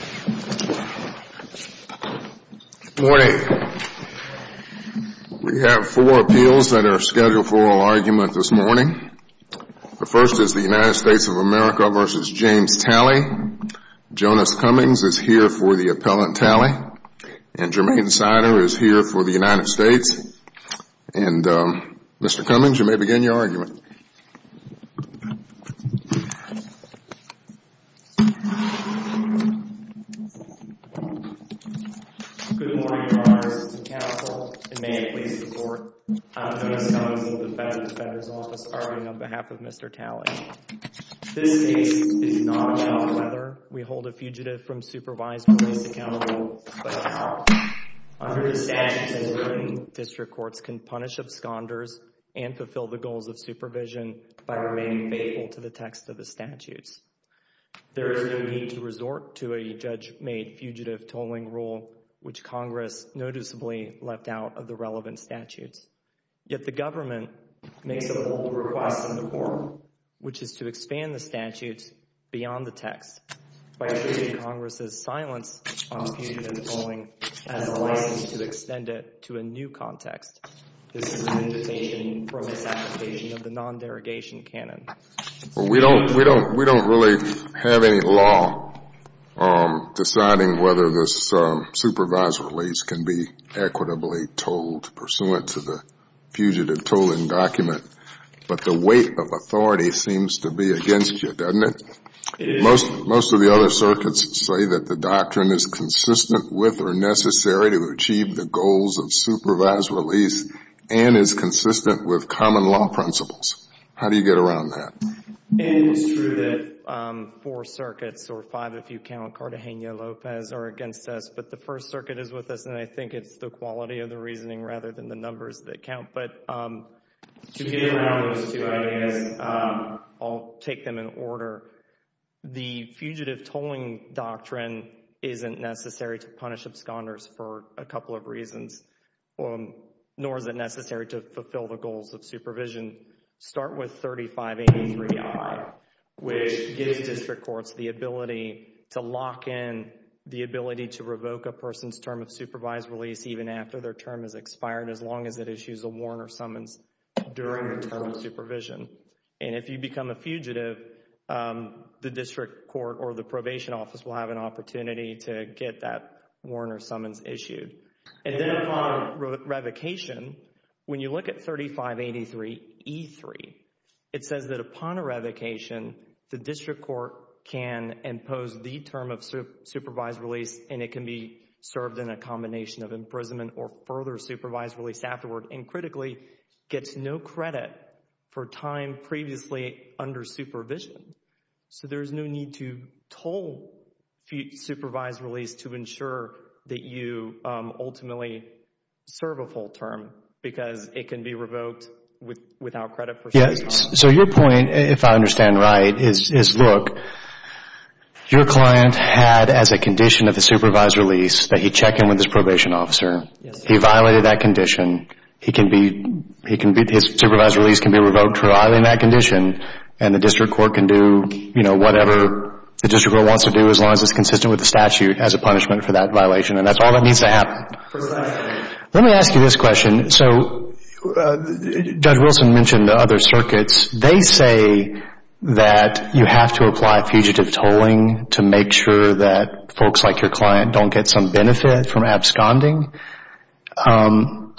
Good morning. We have four appeals that are scheduled for oral argument this morning. The first is the United States of America v. James Talley. Jonas Cummings is here for the appellant tally, and Jermaine Sider is here for the United States. And, Mr. Cummings, you may begin your argument. Jermaine Sider Good morning, Your Honors. It's a counsel, and may I please report? I'm Jonas Cummings of the Federal Defender's Office, arguing on behalf of Mr. Talley. This case is not about whether we hold a fugitive from supervised police accountable, but about how, under the statutes in the Vernon District Courts, can we fulfill the goals of supervision by remaining faithful to the text of the statutes. There is no need to resort to a judge-made fugitive tolling rule, which Congress noticeably left out of the relevant statutes. Yet the government makes a bold request in the court, which is to expand the statutes beyond the text by treating Congress's silence on fugitive tolling as a license to extend it to a new context. This is an invitation for misapplication of the non-derogation canon. Justice Breyer We don't really have any law deciding whether this supervised release can be equitably tolled pursuant to the fugitive tolling document, but the weight of authority seems to be against you, doesn't it? Jermaine Sider It is. Justice Breyer How do you get around that? Jermaine Sider It is true that four circuits, or five if you count, Cartagena-Lopez are against us, but the First Circuit is with us, and I think it is the quality of the reasoning rather than the numbers that count. But to get around those two ideas, I'll take them in order. The fugitive tolling doctrine isn't necessary to punish absconders for a couple of reasons, nor is it necessary to fulfill the goals of supervision. Start with 3583I, which gives district courts the ability to lock in the ability to revoke a person's term of supervised release even after their term has expired, as long as it issues a warrant or summons during the term of supervision. And if you become a fugitive, the district court or the probation office will have an opportunity to get that warrant or summons issued. And then upon revocation, when you look at 3583E3, it says that upon a revocation, the district court can impose the term of supervised release and it can be served in a combination of imprisonment or further supervised release afterward, and critically, gets no credit for time previously under supervision. So there is no need to toll supervised release to ensure that you ultimately serve a full term because it can be revoked without credit for supervision. So your point, if I understand right, is look, your client had as a condition of the supervised release that he check in with his probation officer. He violated that condition. His supervised release can be revoked for violating that condition and the district court can do, you know, whatever the district court wants to do as long as it's consistent with the statute as a punishment for that violation, and that's all that needs to happen. Precisely. Let me ask you this question. So Judge Wilson mentioned the other circuits. They say that you have to apply fugitive tolling to make sure that folks like your client don't get some benefit from absconding. What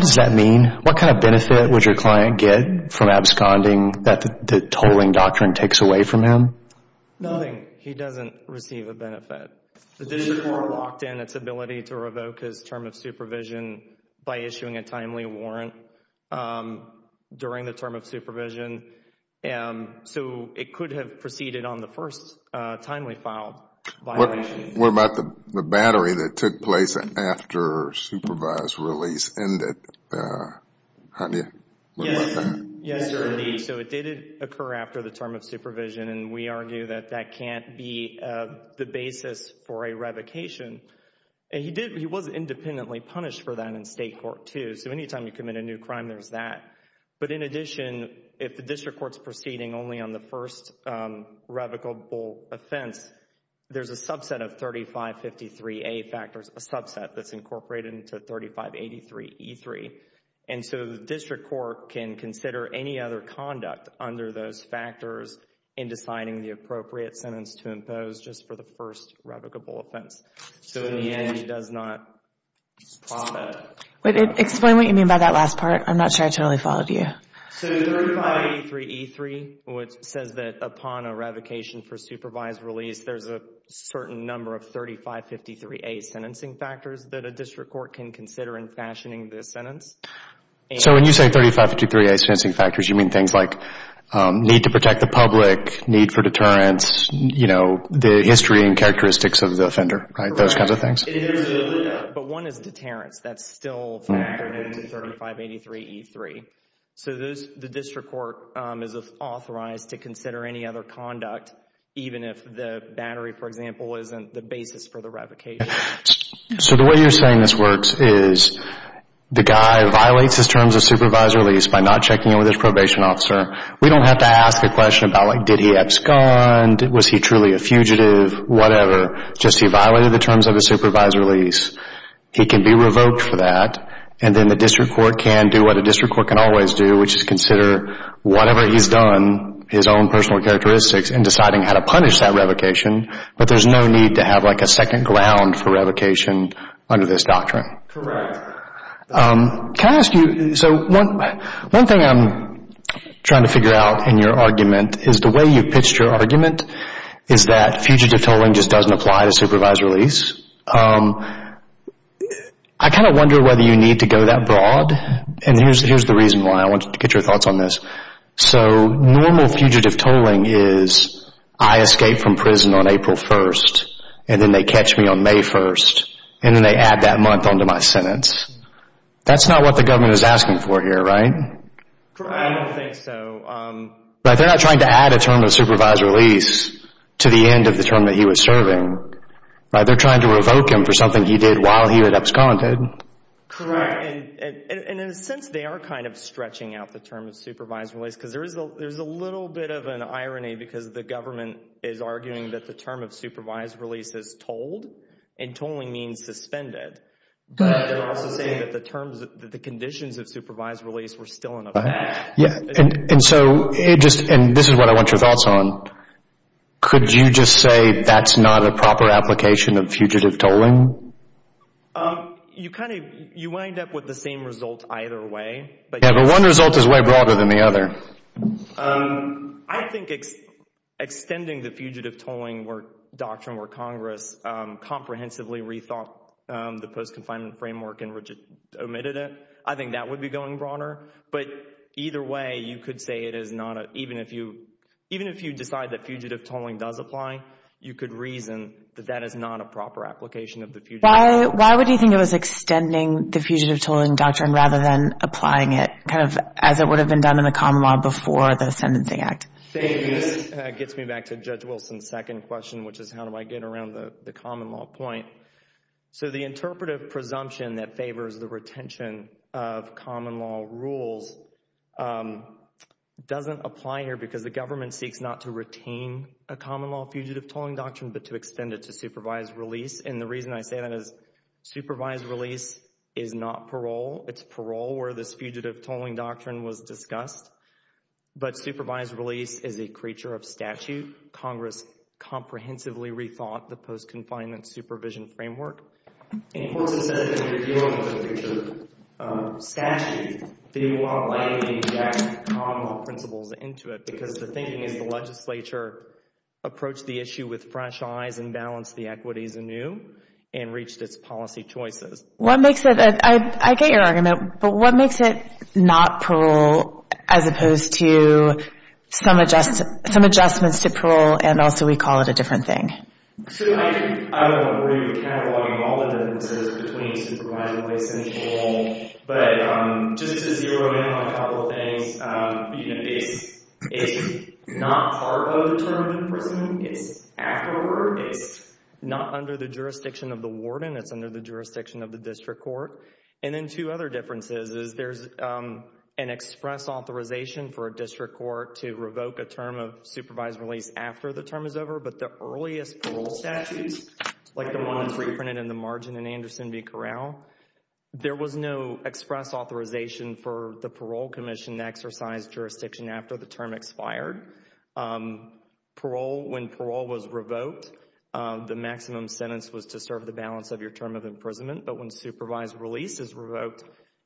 does that mean? What kind of benefit would your client get from absconding that the tolling doctrine takes away from him? Nothing. He doesn't receive a benefit. The district court locked in its ability to revoke his term of supervision by issuing a timely warrant during the term of supervision. So it could have proceeded on the first timely file violation. What about the battery that took place after supervised release ended? Javier? Yes, Your Honor. So it did occur after the term of supervision, and we argue that that can't be the basis for a revocation. He was independently punished for that in state court, too. So any time you commit a new crime, there's that. But in addition, if the district court's proceeding only on the first revocable offense, there's a subset of 3553A factors, a subset that's incorporated into 3583E3. And so the district court can consider any other conduct under those factors in deciding the appropriate sentence to impose just for the first revocable offense. So in the end, he does not profit. Explain what you mean by that last part. I'm not sure I totally followed you. So 3583E3 says that upon a revocation for supervised release, there's a certain number of 3553A sentencing factors that a district court can consider in fashioning this sentence. So when you say 3553A sentencing factors, you mean things like need to protect the public, need for deterrence, you know, the history and characteristics of the offender, right, those kinds of things? Correct. But one is deterrence. That's still factored into 3583E3. So the district court is authorized to consider any other conduct, even if the battery, for example, isn't the basis for the revocation. So the way you're saying this works is the guy violates his terms of supervised release by not checking in with his probation officer. We don't have to ask a question about, like, did he abscond? Was he truly a fugitive? Whatever. Just he violated the terms of his supervised release. He can be revoked for that. And then the district court can do what a district court can always do, which is consider whatever he's done, his own personal characteristics, and deciding how to punish that revocation. But there's no need to have, like, a second ground for revocation under this doctrine. Correct. Can I ask you, so one thing I'm trying to figure out in your argument is the way you've pitched your argument is that fugitive tolling just doesn't apply to supervised release. I kind of wonder whether you need to go that broad, and here's the reason why I wanted to get your thoughts on this. So normal fugitive tolling is I escape from prison on April 1st, and then they catch me on May 1st, and then they add that month onto my sentence. That's not what the government is asking for here, right? I don't think so. Like, they're not trying to add a term of supervised release to the end of the term that he was serving, right? They're trying to revoke him for something he did while he had absconded. Correct. And in a sense, they are kind of stretching out the term of supervised release because there's a little bit of an irony because the government is arguing that the term of supervised release is tolled, and tolling means suspended. But they're also saying that the conditions of supervised release were still in effect. And this is what I want your thoughts on. Could you just say that's not a proper application of fugitive tolling? You wind up with the same result either way. Yeah, but one result is way broader than the other. I think extending the fugitive tolling doctrine where Congress comprehensively rethought the post-confinement framework and omitted it, I think that would be going broader. But either way, you could say it is not a, even if you decide that fugitive tolling does apply, you could reason that that is not a proper application of the fugitive tolling. Why would you think it was extending the fugitive tolling doctrine rather than applying it kind of as it would have been done in the common law before the Sentencing Act? It gets me back to Judge Wilson's second question, which is how do I get around the common law point? So the interpretive presumption that favors the retention of common law rules doesn't apply here because the government seeks not to retain a common law fugitive tolling doctrine but to extend it to supervised release. And the reason I say that is supervised release is not parole. It's parole where this fugitive tolling doctrine was discussed. But supervised release is a creature of statute. Congress comprehensively rethought the post-confinement supervision framework. In court it says that if you're dealing with a creature of statute, that you want to lay the exact common law principles into it because the thinking is the legislature approached the issue with fresh eyes and balanced the equities anew and reached its policy choices. What makes it, I get your argument, but what makes it not parole as opposed to some adjustments to parole and also we call it a different thing? So I don't agree with cataloging all the differences between supervised release and parole. But just to zero in on a couple of things, it's not part of the term of imprisonment. It's afterward. It's not under the jurisdiction of the warden. It's under the jurisdiction of the district court. And then two other differences is there's an express authorization for a district court to revoke a term of supervised release after the term is over. But the earliest parole statutes, like the ones reprinted in the margin in Anderson v. Corral, there was no express authorization for the parole commission to exercise jurisdiction after the term expired. Parole, when parole was revoked, the maximum sentence was to serve the balance of your term of imprisonment. But when supervised release is revoked,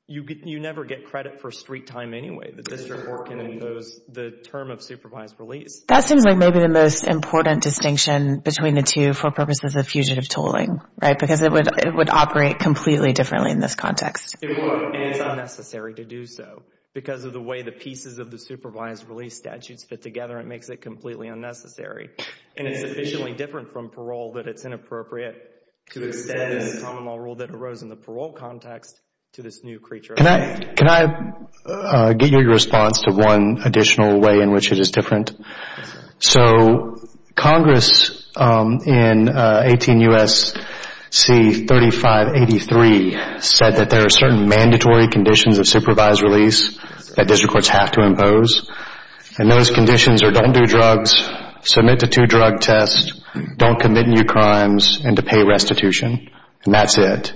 you never get credit for street time anyway. The district court can impose the term of supervised release. That seems like maybe the most important distinction between the two for purposes of fugitive tolling. Right? Because it would operate completely differently in this context. It would, and it's unnecessary to do so. Because of the way the pieces of the supervised release statutes fit together, it makes it completely unnecessary. And it's sufficiently different from parole that it's inappropriate to extend a common law rule that arose in the parole context to this new creature. Can I get your response to one additional way in which it is different? So Congress in 18 U.S.C. 3583 said that there are certain mandatory conditions of supervised release that district courts have to impose. And those conditions are don't do drugs, submit to two drug tests, don't commit new crimes, and to pay restitution. And that's it.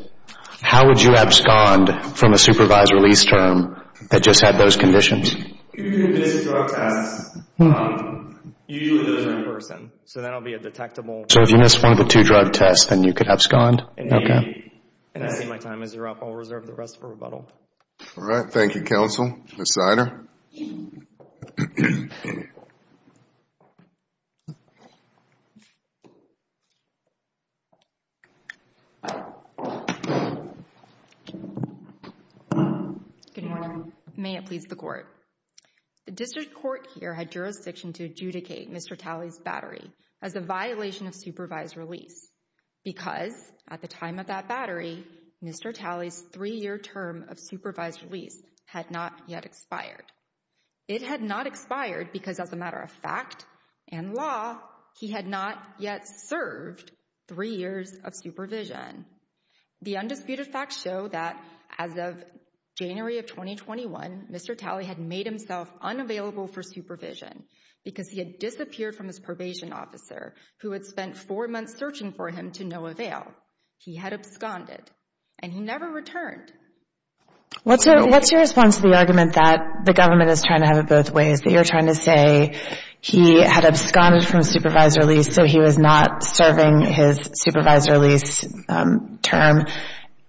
How would you abscond from a supervised release term that just had those conditions? If you missed drug tests, usually those are in person. So that will be a detectable. So if you missed one of the two drug tests, then you could abscond? Maybe. And I see my time is up. I'll reserve the rest for rebuttal. All right. Thank you, counsel. Ms. Sider. Good morning. May it please the court. The district court here had jurisdiction to adjudicate Mr. Talley's battery as a violation of supervised release because at the time of that battery, Mr. Talley's three-year term of supervised release had not yet expired. It had not expired because as a matter of fact and law, he had not yet served three years of supervision. The undisputed facts show that as of January of 2021, Mr. Talley had made himself unavailable for supervision because he had disappeared from his probation officer, who had spent four months searching for him to no avail. He had absconded, and he never returned. What's your response to the argument that the government is trying to have it both ways, that you're trying to say he had absconded from supervised release so he was not serving his supervised release term,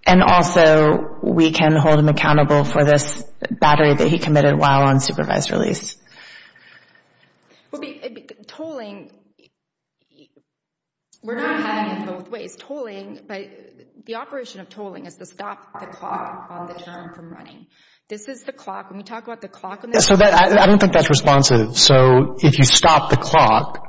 and also we can hold him accountable for this battery that he committed while on supervised release? Well, tolling, we're not having it both ways. Tolling, the operation of tolling is to stop the clock on the term from running. This is the clock. When we talk about the clock on the term. I don't think that's responsive. So if you stop the clock,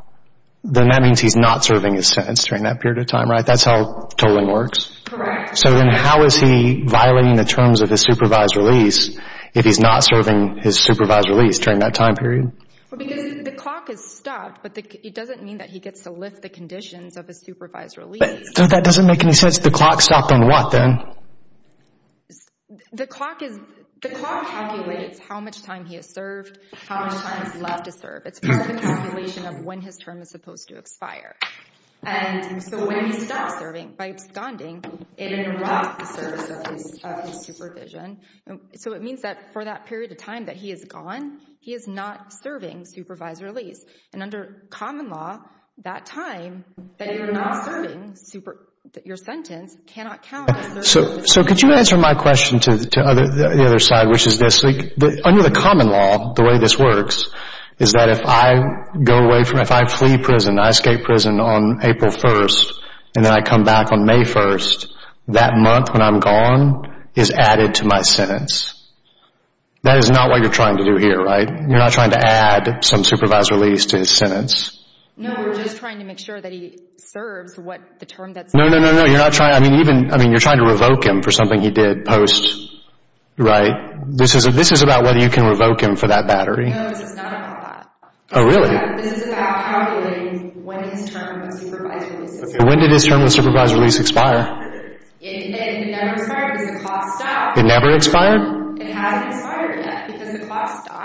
then that means he's not serving his sentence during that period of time, right? That's how tolling works? Correct. So then how is he violating the terms of his supervised release if he's not serving his supervised release during that time period? Because the clock is stopped, but it doesn't mean that he gets to lift the conditions of his supervised release. So that doesn't make any sense. The clock stopped on what then? The clock calculates how much time he has served, how much time is left to serve. It's more of a calculation of when his term is supposed to expire. And so when he stops serving by absconding, it interrupts the service of his supervision. So it means that for that period of time that he is gone, he is not serving supervised release. And under common law, that time that you're not serving your sentence cannot count. So could you answer my question to the other slide, which is this. Under the common law, the way this works is that if I go away from it, if I flee prison, I escape prison on April 1st, and then I come back on May 1st, that month when I'm gone is added to my sentence. That is not what you're trying to do here, right? You're not trying to add some supervised release to his sentence. No, we're just trying to make sure that he serves what the term that says. No, no, no, no, you're not trying. I mean, you're trying to revoke him for something he did post, right? This is about whether you can revoke him for that battery. No, this is not about that. Oh, really? This is about calculating when his term of supervised release expired. When did his term of supervised release expire? It never expired because the clock stopped. It never expired? It hasn't expired yet because the clock stopped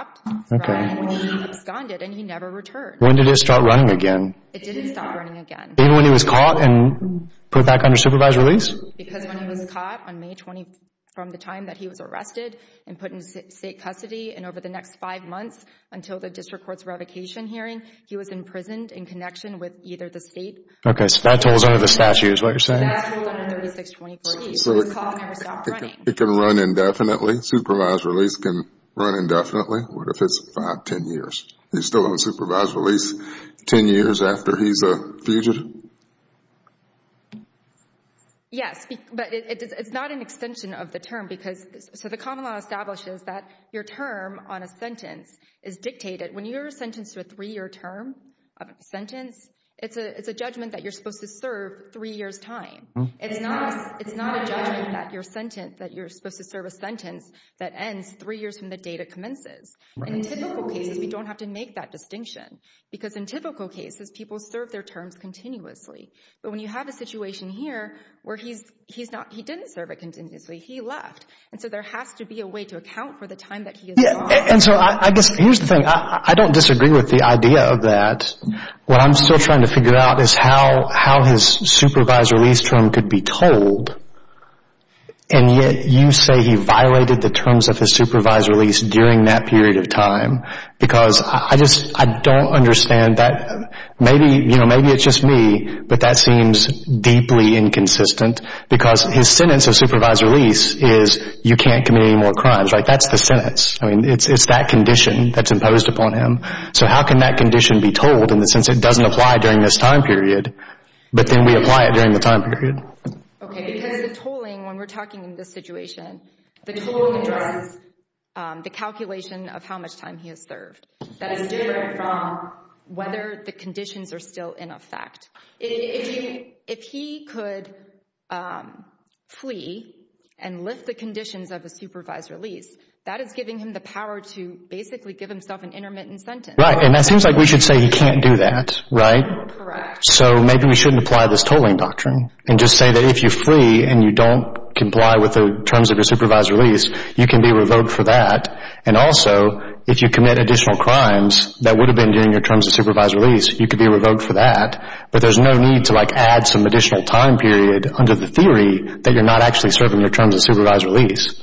when he absconded and he never returned. When did it start running again? It didn't stop running again. Even when he was caught and put back under supervised release? Because when he was caught on May 20th from the time that he was arrested and put in state custody and over the next five months until the district court's revocation hearing, he was imprisoned in connection with either the state... Okay, so that was under the statute is what you're saying? That was under 3623. So the clock never stopped running. It can run indefinitely? Supervised release can run indefinitely? What if it's five, ten years? He's still on supervised release ten years after he's a fugitive? Yes, but it's not an extension of the term. So the common law establishes that your term on a sentence is dictated. When you're sentenced to a three-year term sentence, it's a judgment that you're supposed to serve three years' time. It's not a judgment that you're supposed to serve a sentence that ends three years from the date it commences. In typical cases, we don't have to make that distinction because in typical cases, people serve their terms continuously. But when you have a situation here where he didn't serve it continuously, he left, and so there has to be a way to account for the time that he is gone. And so I guess here's the thing. I don't disagree with the idea of that. What I'm still trying to figure out is how his supervised release term could be told, and yet you say he violated the terms of his supervised release during that period of time because I just don't understand that. Maybe it's just me, but that seems deeply inconsistent because his sentence of supervised release is you can't commit any more crimes, right? That's the sentence. I mean, it's that condition that's imposed upon him. So how can that condition be told in the sense it doesn't apply during this time period, but then we apply it during the time period? Okay, because the tolling, when we're talking in this situation, the tolling addresses the calculation of how much time he has served. That is different from whether the conditions are still in effect. If he could flee and lift the conditions of a supervised release, that is giving him the power to basically give himself an intermittent sentence. Right, and that seems like we should say he can't do that, right? Correct. So maybe we shouldn't apply this tolling doctrine and just say that if you flee and you don't comply with the terms of your supervised release, you can be revoked for that, and also if you commit additional crimes that would have been during your terms of supervised release, you could be revoked for that, but there's no need to add some additional time period under the theory that you're not actually serving your terms of supervised release.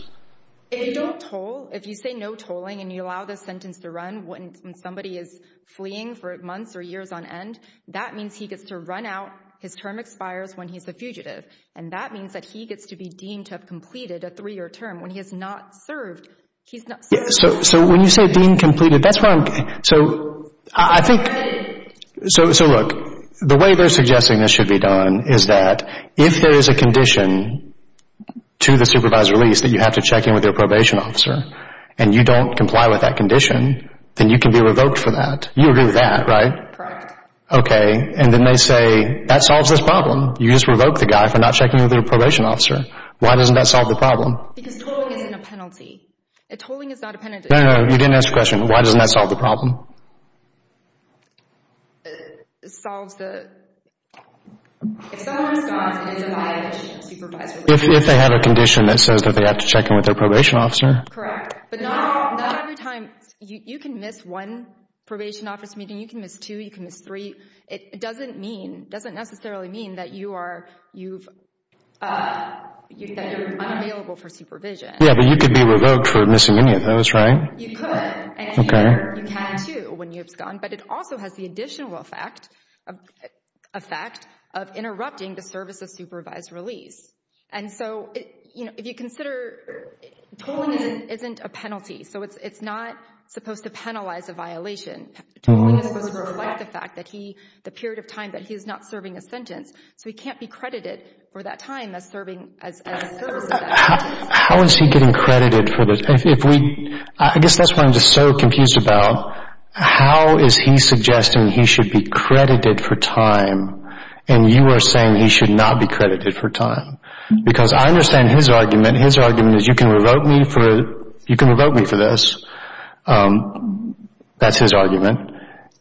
If you don't toll, if you say no tolling and you allow the sentence to run when somebody is fleeing for months or years on end, that means he gets to run out. His term expires when he's a fugitive, and that means that he gets to be deemed to have completed a three-year term. When he has not served, he's not serving. So when you say deemed completed, that's where I'm getting. So I think, so look, the way they're suggesting this should be done is that if there is a condition to the supervised release that you have to check in with your probation officer and you don't comply with that condition, then you can be revoked for that. You agree with that, right? Correct. Okay. And then they say, that solves this problem. You just revoke the guy for not checking in with their probation officer. Why doesn't that solve the problem? Because tolling isn't a penalty. A tolling is not a penalty. No, no, no. You didn't ask the question. Why doesn't that solve the problem? Solves the… If someone is not, and it's a violation of supervised release. If they have a condition that says that they have to check in with their probation officer. Correct. But not every time. You can miss one probation office meeting. You can miss two. You can miss three. It doesn't mean, doesn't necessarily mean that you are, you've, that you're unavailable for supervision. Yeah, but you could be revoked for missing any of those, right? You could. Okay. And here, you can too when you've gone. But it also has the additional effect of interrupting the service of supervised release. And so, you know, if you consider, tolling isn't a penalty. So it's not supposed to penalize a violation. Tolling is supposed to reflect the fact that he, the period of time that he is not serving a sentence. So he can't be credited for that time as serving, as a service. How is he getting credited for this? If we, I guess that's what I'm just so confused about. How is he suggesting he should be credited for time, and you are saying he should not be credited for time? Because I understand his argument. His argument is you can revoke me for, you can revoke me for this. That's his argument.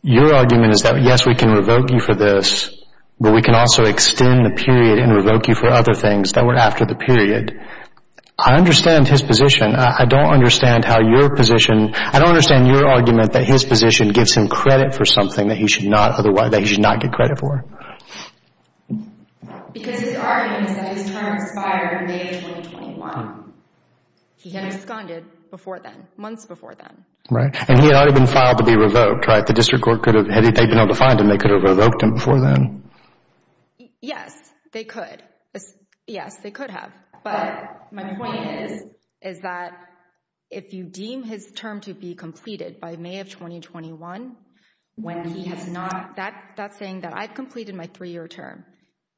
Your argument is that, yes, we can revoke you for this, but we can also extend the period and revoke you for other things that were after the period. I understand his position. I don't understand how your position, I don't understand your argument that his position gives him credit for something that he should not otherwise, that he should not get credit for. Because his argument is that his term expired on May of 2021. He had absconded before then, months before then. Right, and he had already been filed to be revoked, right? The district court could have, had they been able to find him, they could have revoked him before then. Yes, they could. Yes, they could have. But my point is, is that if you deem his term to be completed by May of 2021, when he has not, that's saying that I've completed my three-year term,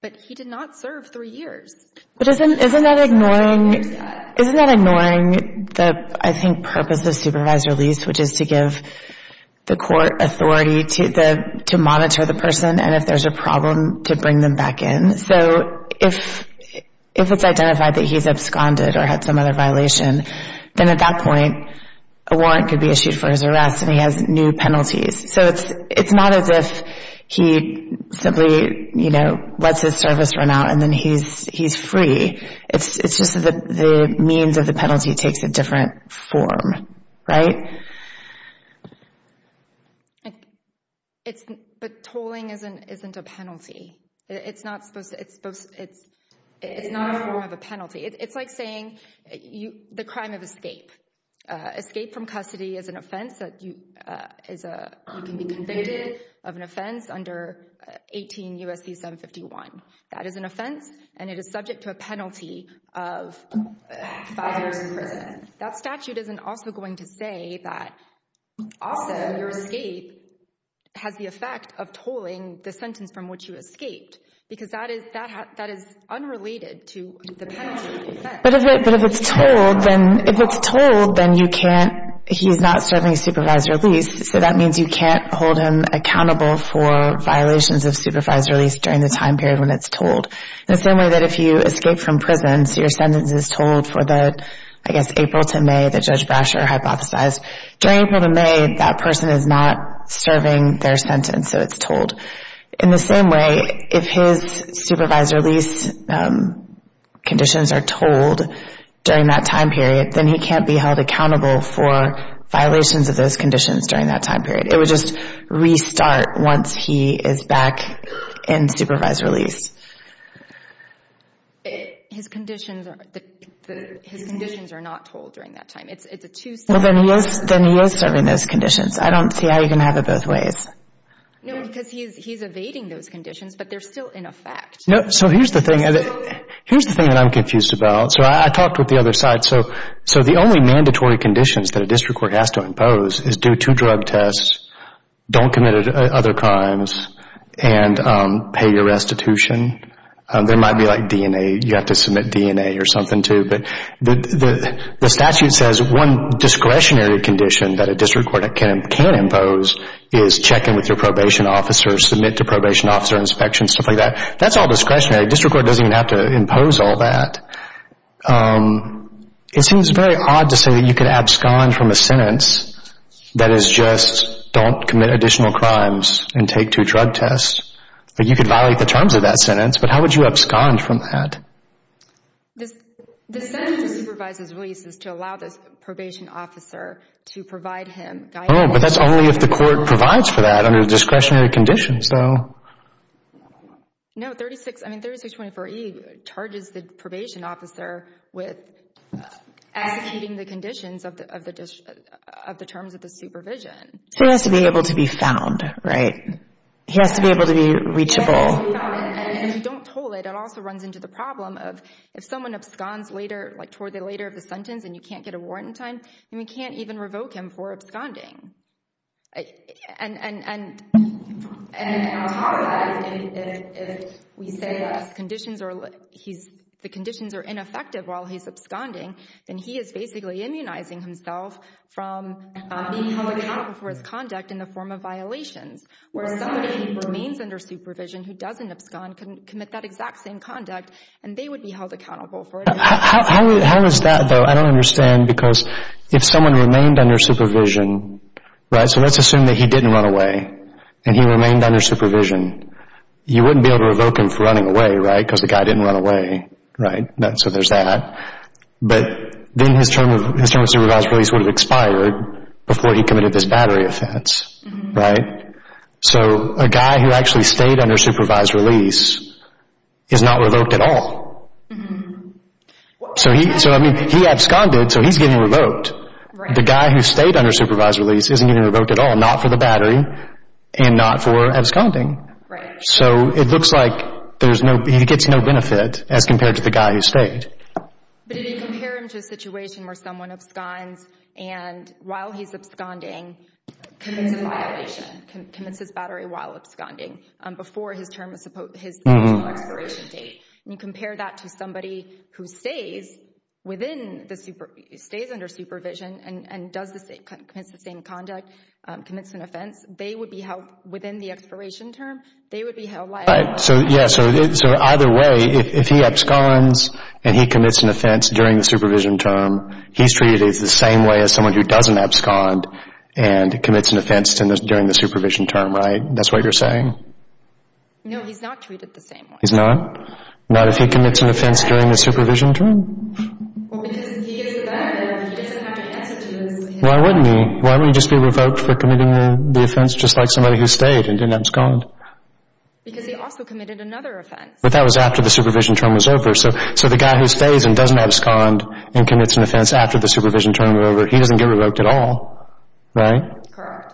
but he did not serve three years. But isn't that ignoring, isn't that ignoring the, I think, purpose of supervised release, which is to give the court authority to monitor the person, and if there's a problem, to bring them back in. So if it's identified that he's absconded or had some other violation, then at that point a warrant could be issued for his arrest and he has new penalties. So it's not as if he simply, you know, lets his service run out and then he's free. It's just that the means of the penalty takes a different form, right? But tolling isn't a penalty. It's not supposed to, it's not a form of a penalty. It's like saying the crime of escape. Escape from custody is an offense that you can be convicted of an offense under 18 U.S.C. 751. That is an offense, and it is subject to a penalty of five years in prison. That statute isn't also going to say that also your escape has the effect of tolling the sentence from which you escaped, because that is unrelated to the penalty. But if it's tolled, then you can't, he's not serving supervised release, so that means you can't hold him accountable for violations of supervised release during the time period when it's tolled. In the same way that if you escape from prison, so your sentence is tolled for the, I guess, April to May, that Judge Brasher hypothesized, during April to May that person is not serving their sentence, so it's tolled. In the same way, if his supervised release conditions are tolled during that time period, then he can't be held accountable for violations of those conditions during that time period. It would just restart once he is back in supervised release. His conditions are not tolled during that time. It's a two-step process. Then he is serving those conditions. I don't see how you can have it both ways. No, because he's evading those conditions, but they're still in effect. So here's the thing that I'm confused about. So I talked with the other side. So the only mandatory conditions that a district court has to impose is do two drug tests, don't commit other crimes, and pay your restitution. There might be like DNA, you have to submit DNA or something too. But the statute says one discretionary condition that a district court can impose is check in with your probation officer, submit to probation officer inspection, stuff like that. That's all discretionary. District court doesn't even have to impose all that. It seems very odd to say that you could abscond from a sentence that is just don't commit additional crimes and take two drug tests. You could violate the terms of that sentence, but how would you abscond from that? The sentence of supervised release is to allow the probation officer to provide him guidance. Oh, but that's only if the court provides for that under discretionary conditions, though. No, 3624E charges the probation officer with executing the conditions of the terms of the supervision. He has to be able to be found, right? He has to be able to be reachable. He has to be found. And if you don't toll it, it also runs into the problem of if someone absconds later, like toward the later of the sentence and you can't get a warrant in time, then you can't even revoke him for absconding. And on top of that, if we say the conditions are ineffective while he's absconding, then he is basically immunizing himself from being held accountable for his conduct in the form of violations, whereas somebody who remains under supervision who doesn't abscond can commit that exact same conduct, and they would be held accountable for it. How is that, though? I don't understand because if someone remained under supervision, right? So let's assume that he didn't run away and he remained under supervision. You wouldn't be able to revoke him for running away, right, because the guy didn't run away, right? So there's that. But then his term of supervised release would have expired before he committed this battery offense, right? So a guy who actually stayed under supervised release is not revoked at all. So he absconded, so he's getting revoked. The guy who stayed under supervised release isn't getting revoked at all, not for the battery and not for absconding. So it looks like he gets no benefit as compared to the guy who stayed. But if you compare him to a situation where someone absconds and while he's absconding commits a violation, commits his battery while absconding before his term of expiration date, and you compare that to somebody who stays under supervision and commits the same conduct, commits an offense, they would be held, within the expiration term, they would be held liable. Right. So either way, if he absconds and he commits an offense during the supervision term, he's treated the same way as someone who doesn't abscond and commits an offense during the supervision term, right? That's what you're saying? No, he's not treated the same way. He's not? Not if he commits an offense during the supervision term? Well, because he gets the benefit. He doesn't have to answer to this. Why wouldn't he? Why wouldn't he just be revoked for committing the offense, just like somebody who stayed and didn't abscond? Because he also committed another offense. But that was after the supervision term was over. So the guy who stays and doesn't abscond and commits an offense after the supervision term is over, he doesn't get revoked at all, right? Correct.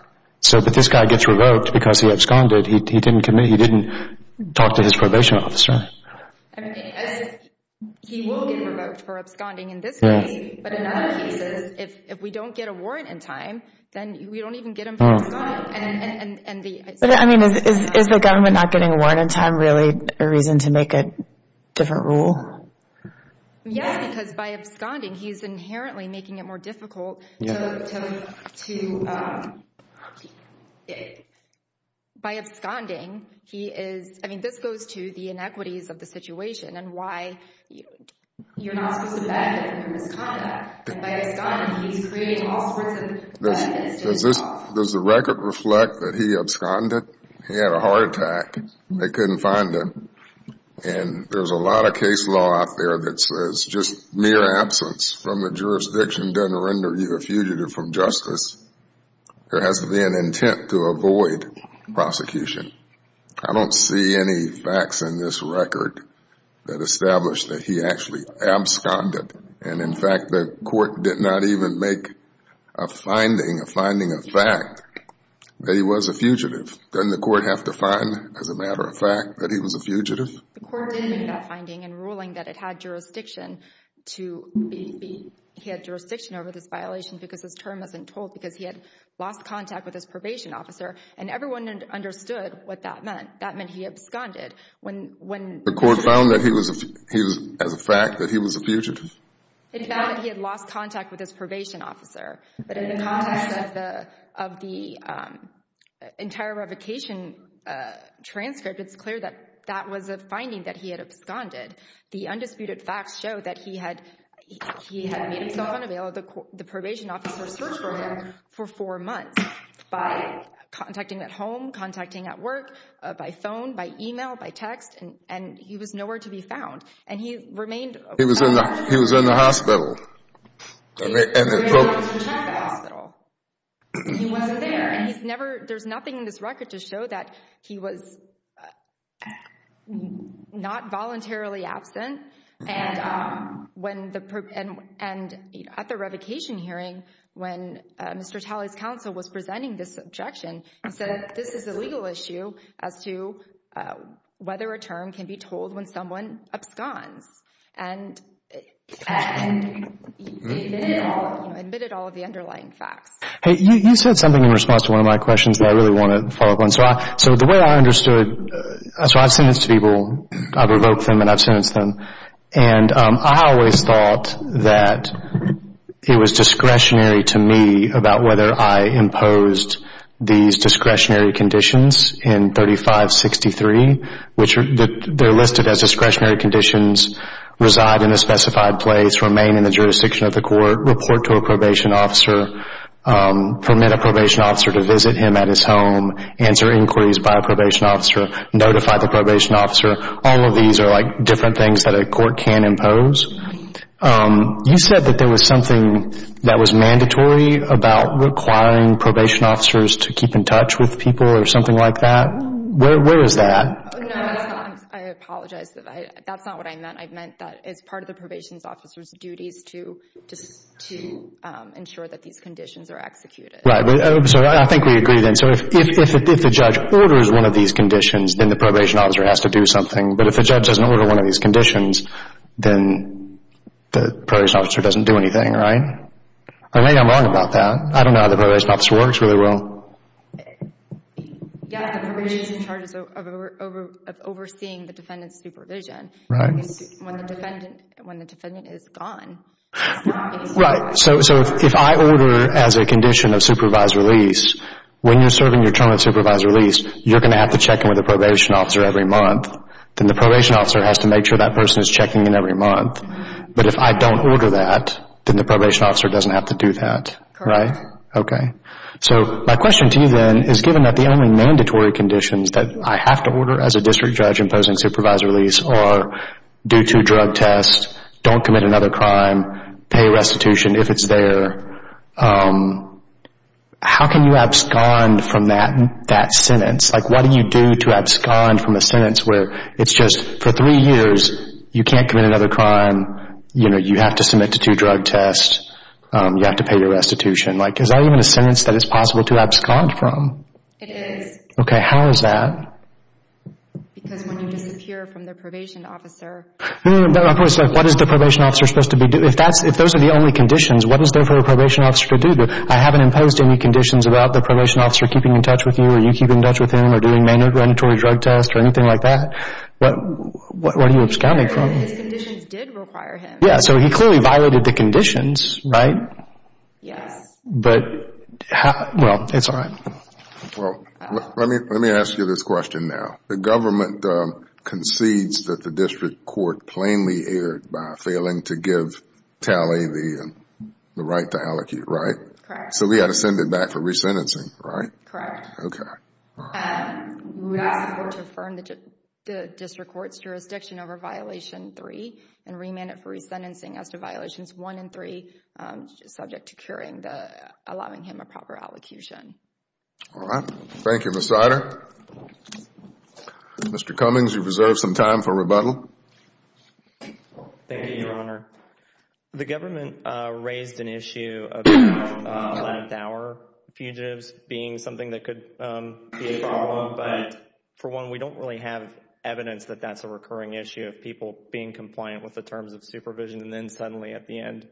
But this guy gets revoked because he absconded. He didn't talk to his probation officer. He will get revoked for absconding in this case, but in other cases, if we don't get a warrant in time, then we don't even get him for absconding. But, I mean, is the government not getting a warrant in time really a reason to make a different rule? Yes, because by absconding, he's inherently making it more difficult to— By absconding, he is—I mean, this goes to the inequities of the situation and why you're not supposed to ban him from his conduct. And by absconding, he's creating all sorts of bad instances. Does the record reflect that he absconded? He had a heart attack. They couldn't find him. And there's a lot of case law out there that says just mere absence from the jurisdiction doesn't render you a fugitive from justice. There has to be an intent to avoid prosecution. I don't see any facts in this record that establish that he actually absconded. And, in fact, the court did not even make a finding, a finding of fact, that he was a fugitive. Doesn't the court have to find, as a matter of fact, that he was a fugitive? The court did make that finding in ruling that it had jurisdiction to be— he had jurisdiction over this violation because his term hasn't been told because he had lost contact with his probation officer. And everyone understood what that meant. That meant he absconded. The court found that he was, as a fact, that he was a fugitive? It found that he had lost contact with his probation officer. But in the context of the entire revocation transcript, it's clear that that was a finding that he had absconded. The undisputed facts show that he had made himself unavailable to the probation officer's search program for four months by contacting at home, contacting at work, by phone, by email, by text. And he was nowhere to be found. And he remained— He was in the hospital. He was in the hospital. He wasn't there. And he's never—there's nothing in this record to show that he was not voluntarily absent. And at the revocation hearing, when Mr. Talley's counsel was presenting this objection, he said this is a legal issue as to whether a term can be told when someone absconds. And he admitted all of the underlying facts. Hey, you said something in response to one of my questions that I really want to follow up on. So the way I understood—so I've sentenced people. I've revoked them, and I've sentenced them. And I always thought that it was discretionary to me about whether I imposed these discretionary conditions in 3563, which they're listed as discretionary conditions, reside in a specified place, remain in the jurisdiction of the court, report to a probation officer, permit a probation officer to visit him at his home, answer inquiries by a probation officer, notify the probation officer. All of these are, like, different things that a court can impose. You said that there was something that was mandatory about requiring probation officers to keep in touch with people or something like that. Where is that? I apologize. That's not what I meant. I meant that it's part of the probation officer's duties to ensure that these conditions are executed. Right. So I think we agree then. So if the judge orders one of these conditions, then the probation officer has to do something. But if the judge doesn't order one of these conditions, then the probation officer doesn't do anything, right? Or maybe I'm wrong about that. I don't know how the probation officer works really well. Yeah, the probation officer is in charge of overseeing the defendant's supervision. Right. When the defendant is gone. Right. So if I order as a condition of supervised release, when you're serving your term of supervised release, you're going to have to check in with a probation officer every month. Then the probation officer has to make sure that person is checking in every month. But if I don't order that, then the probation officer doesn't have to do that, right? Correct. Okay. So my question to you then is given that the only mandatory conditions that I have to order as a district judge to impose on supervised release are do two drug tests, don't commit another crime, pay restitution if it's there, how can you abscond from that sentence? Like what do you do to abscond from a sentence where it's just for three years you can't commit another crime, you have to submit to two drug tests, you have to pay your restitution. Like is that even a sentence that is possible to abscond from? It is. Okay. How is that? Because when you disappear from the probation officer. No, no, no. What is the probation officer supposed to be doing? If those are the only conditions, what is there for a probation officer to do? I haven't imposed any conditions about the probation officer keeping in touch with you or you keeping in touch with him or doing mandatory drug tests or anything like that. Where do you abscond from? His conditions did require him. Yeah, so he clearly violated the conditions, right? Yes. But, well, it's all right. Well, let me ask you this question now. The government concedes that the district court plainly erred by failing to give Talley the right to allocate, right? Correct. So we have to send it back for resentencing, right? Correct. Okay. We ask the court to affirm the district court's jurisdiction over violation three and remand it for resentencing as to violations one and three, subject to allowing him a proper allocution. All right. Thank you, Ms. Snyder. Mr. Cummings, you've reserved some time for rebuttal. Thank you, Your Honor. The government raised an issue of length hour fugitives being something that could be a problem, but for one, we don't really have evidence that that's a recurring issue of people being compliant with the terms of supervision and then suddenly at the end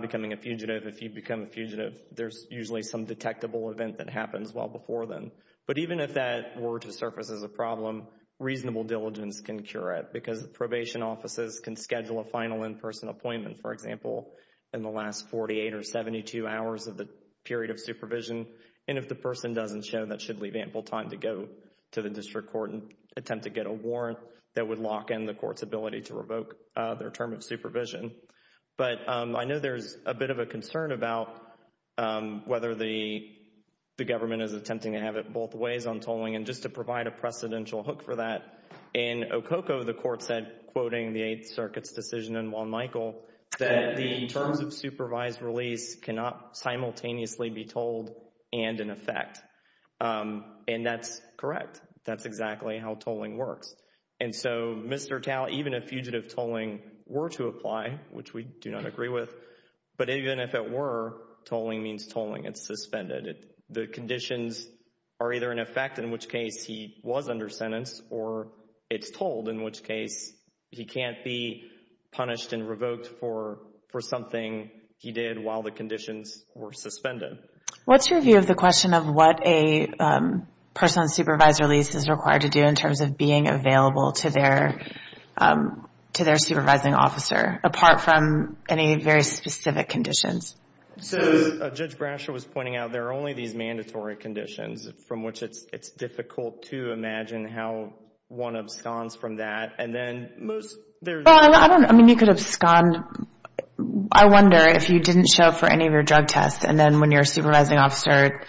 becoming a fugitive. If you become a fugitive, there's usually some detectable event that happens well before then. But even if that were to surface as a problem, reasonable diligence can cure it because probation offices can schedule a final in-person appointment, for example, in the last 48 or 72 hours of the period of supervision, and if the person doesn't show, that should leave ample time to go to the district court and attempt to get a warrant that would lock in the court's ability to revoke their term of supervision. But I know there's a bit of a concern about whether the government is attempting to have it both ways on tolling, and just to provide a precedential hook for that, in Okoko, the court said, quoting the Eighth Circuit's decision in Juan Michael, that the terms of supervised release cannot simultaneously be told and in effect. And that's correct. That's exactly how tolling works. And so, Mr. Tal, even if fugitive tolling were to apply, which we do not agree with, but even if it were, tolling means tolling. It's suspended. The conditions are either in effect, in which case he was under sentence, or it's told, in which case he can't be punished and revoked for something he did while the conditions were suspended. What's your view of the question of what a person on supervised release is required to do in terms of being available to their supervising officer, apart from any very specific conditions? So, as Judge Brasher was pointing out, there are only these mandatory conditions, from which it's difficult to imagine how one absconds from that. And then most, there's... Well, I mean, you could abscond. I wonder if you didn't show up for any of your drug tests, and then when your supervising officer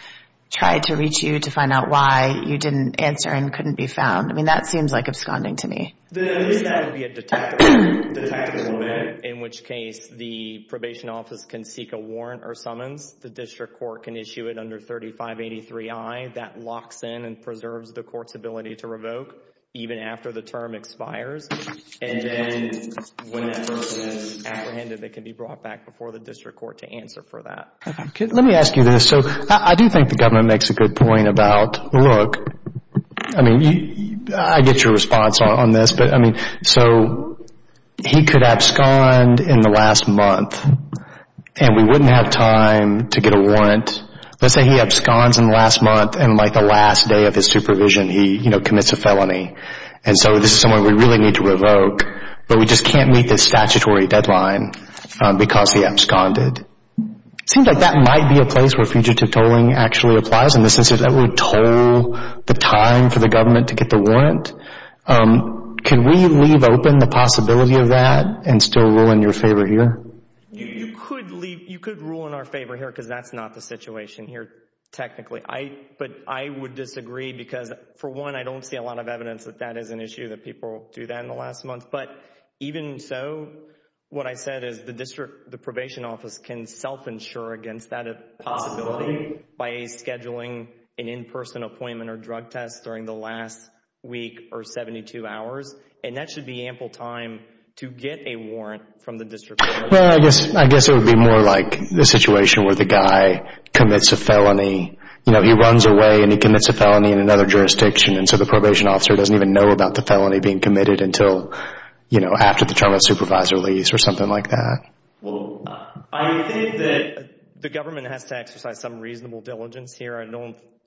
tried to reach you to find out why, you didn't answer and couldn't be found. I mean, that seems like absconding to me. There is going to be a detective moment, in which case the probation office can seek a warrant or summons. The district court can issue it under 3583I. That locks in and preserves the court's ability to revoke, even after the term expires. And then, when that person is apprehended, they can be brought back before the district court to answer for that. Let me ask you this. So, I do think the government makes a good point about, look, I mean, I get your response on this, but, I mean, so he could abscond in the last month, and we wouldn't have time to get a warrant. Let's say he absconds in the last month, and like the last day of his supervision, he, you know, commits a felony. And so this is someone we really need to revoke, but we just can't meet the statutory deadline because he absconded. It seems like that might be a place where fugitive tolling actually applies, in the sense that that would toll the time for the government to get the warrant. Can we leave open the possibility of that and still rule in your favor here? You could rule in our favor here, because that's not the situation here, technically. But I would disagree because, for one, I don't see a lot of evidence that that is an issue, that people do that in the last month. But even so, what I said is the district, the probation office can self-insure against that possibility by scheduling an in-person appointment or drug test during the last week or 72 hours, and that should be ample time to get a warrant from the district court. Well, I guess it would be more like the situation where the guy commits a felony. You know, he runs away and he commits a felony in another jurisdiction, and so the probation officer doesn't even know about the felony being committed until, you know, after the trauma supervisor leaves or something like that. Well, I think that the government has to exercise some reasonable diligence here.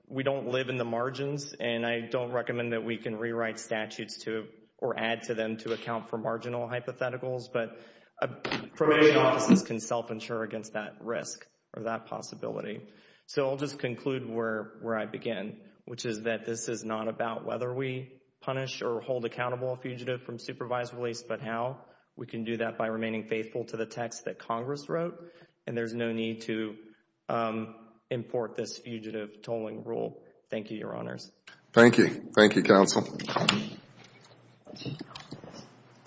We don't live in the margins, and I don't recommend that we can rewrite statutes or add to them to account for marginal hypotheticals, but probation offices can self-insure against that risk or that possibility. So I'll just conclude where I began, which is that this is not about whether we punish or hold accountable a fugitive from supervised release, but how we can do that by remaining faithful to the text that Congress wrote, and there's no need to import this fugitive tolling rule. Thank you, Your Honors. Thank you.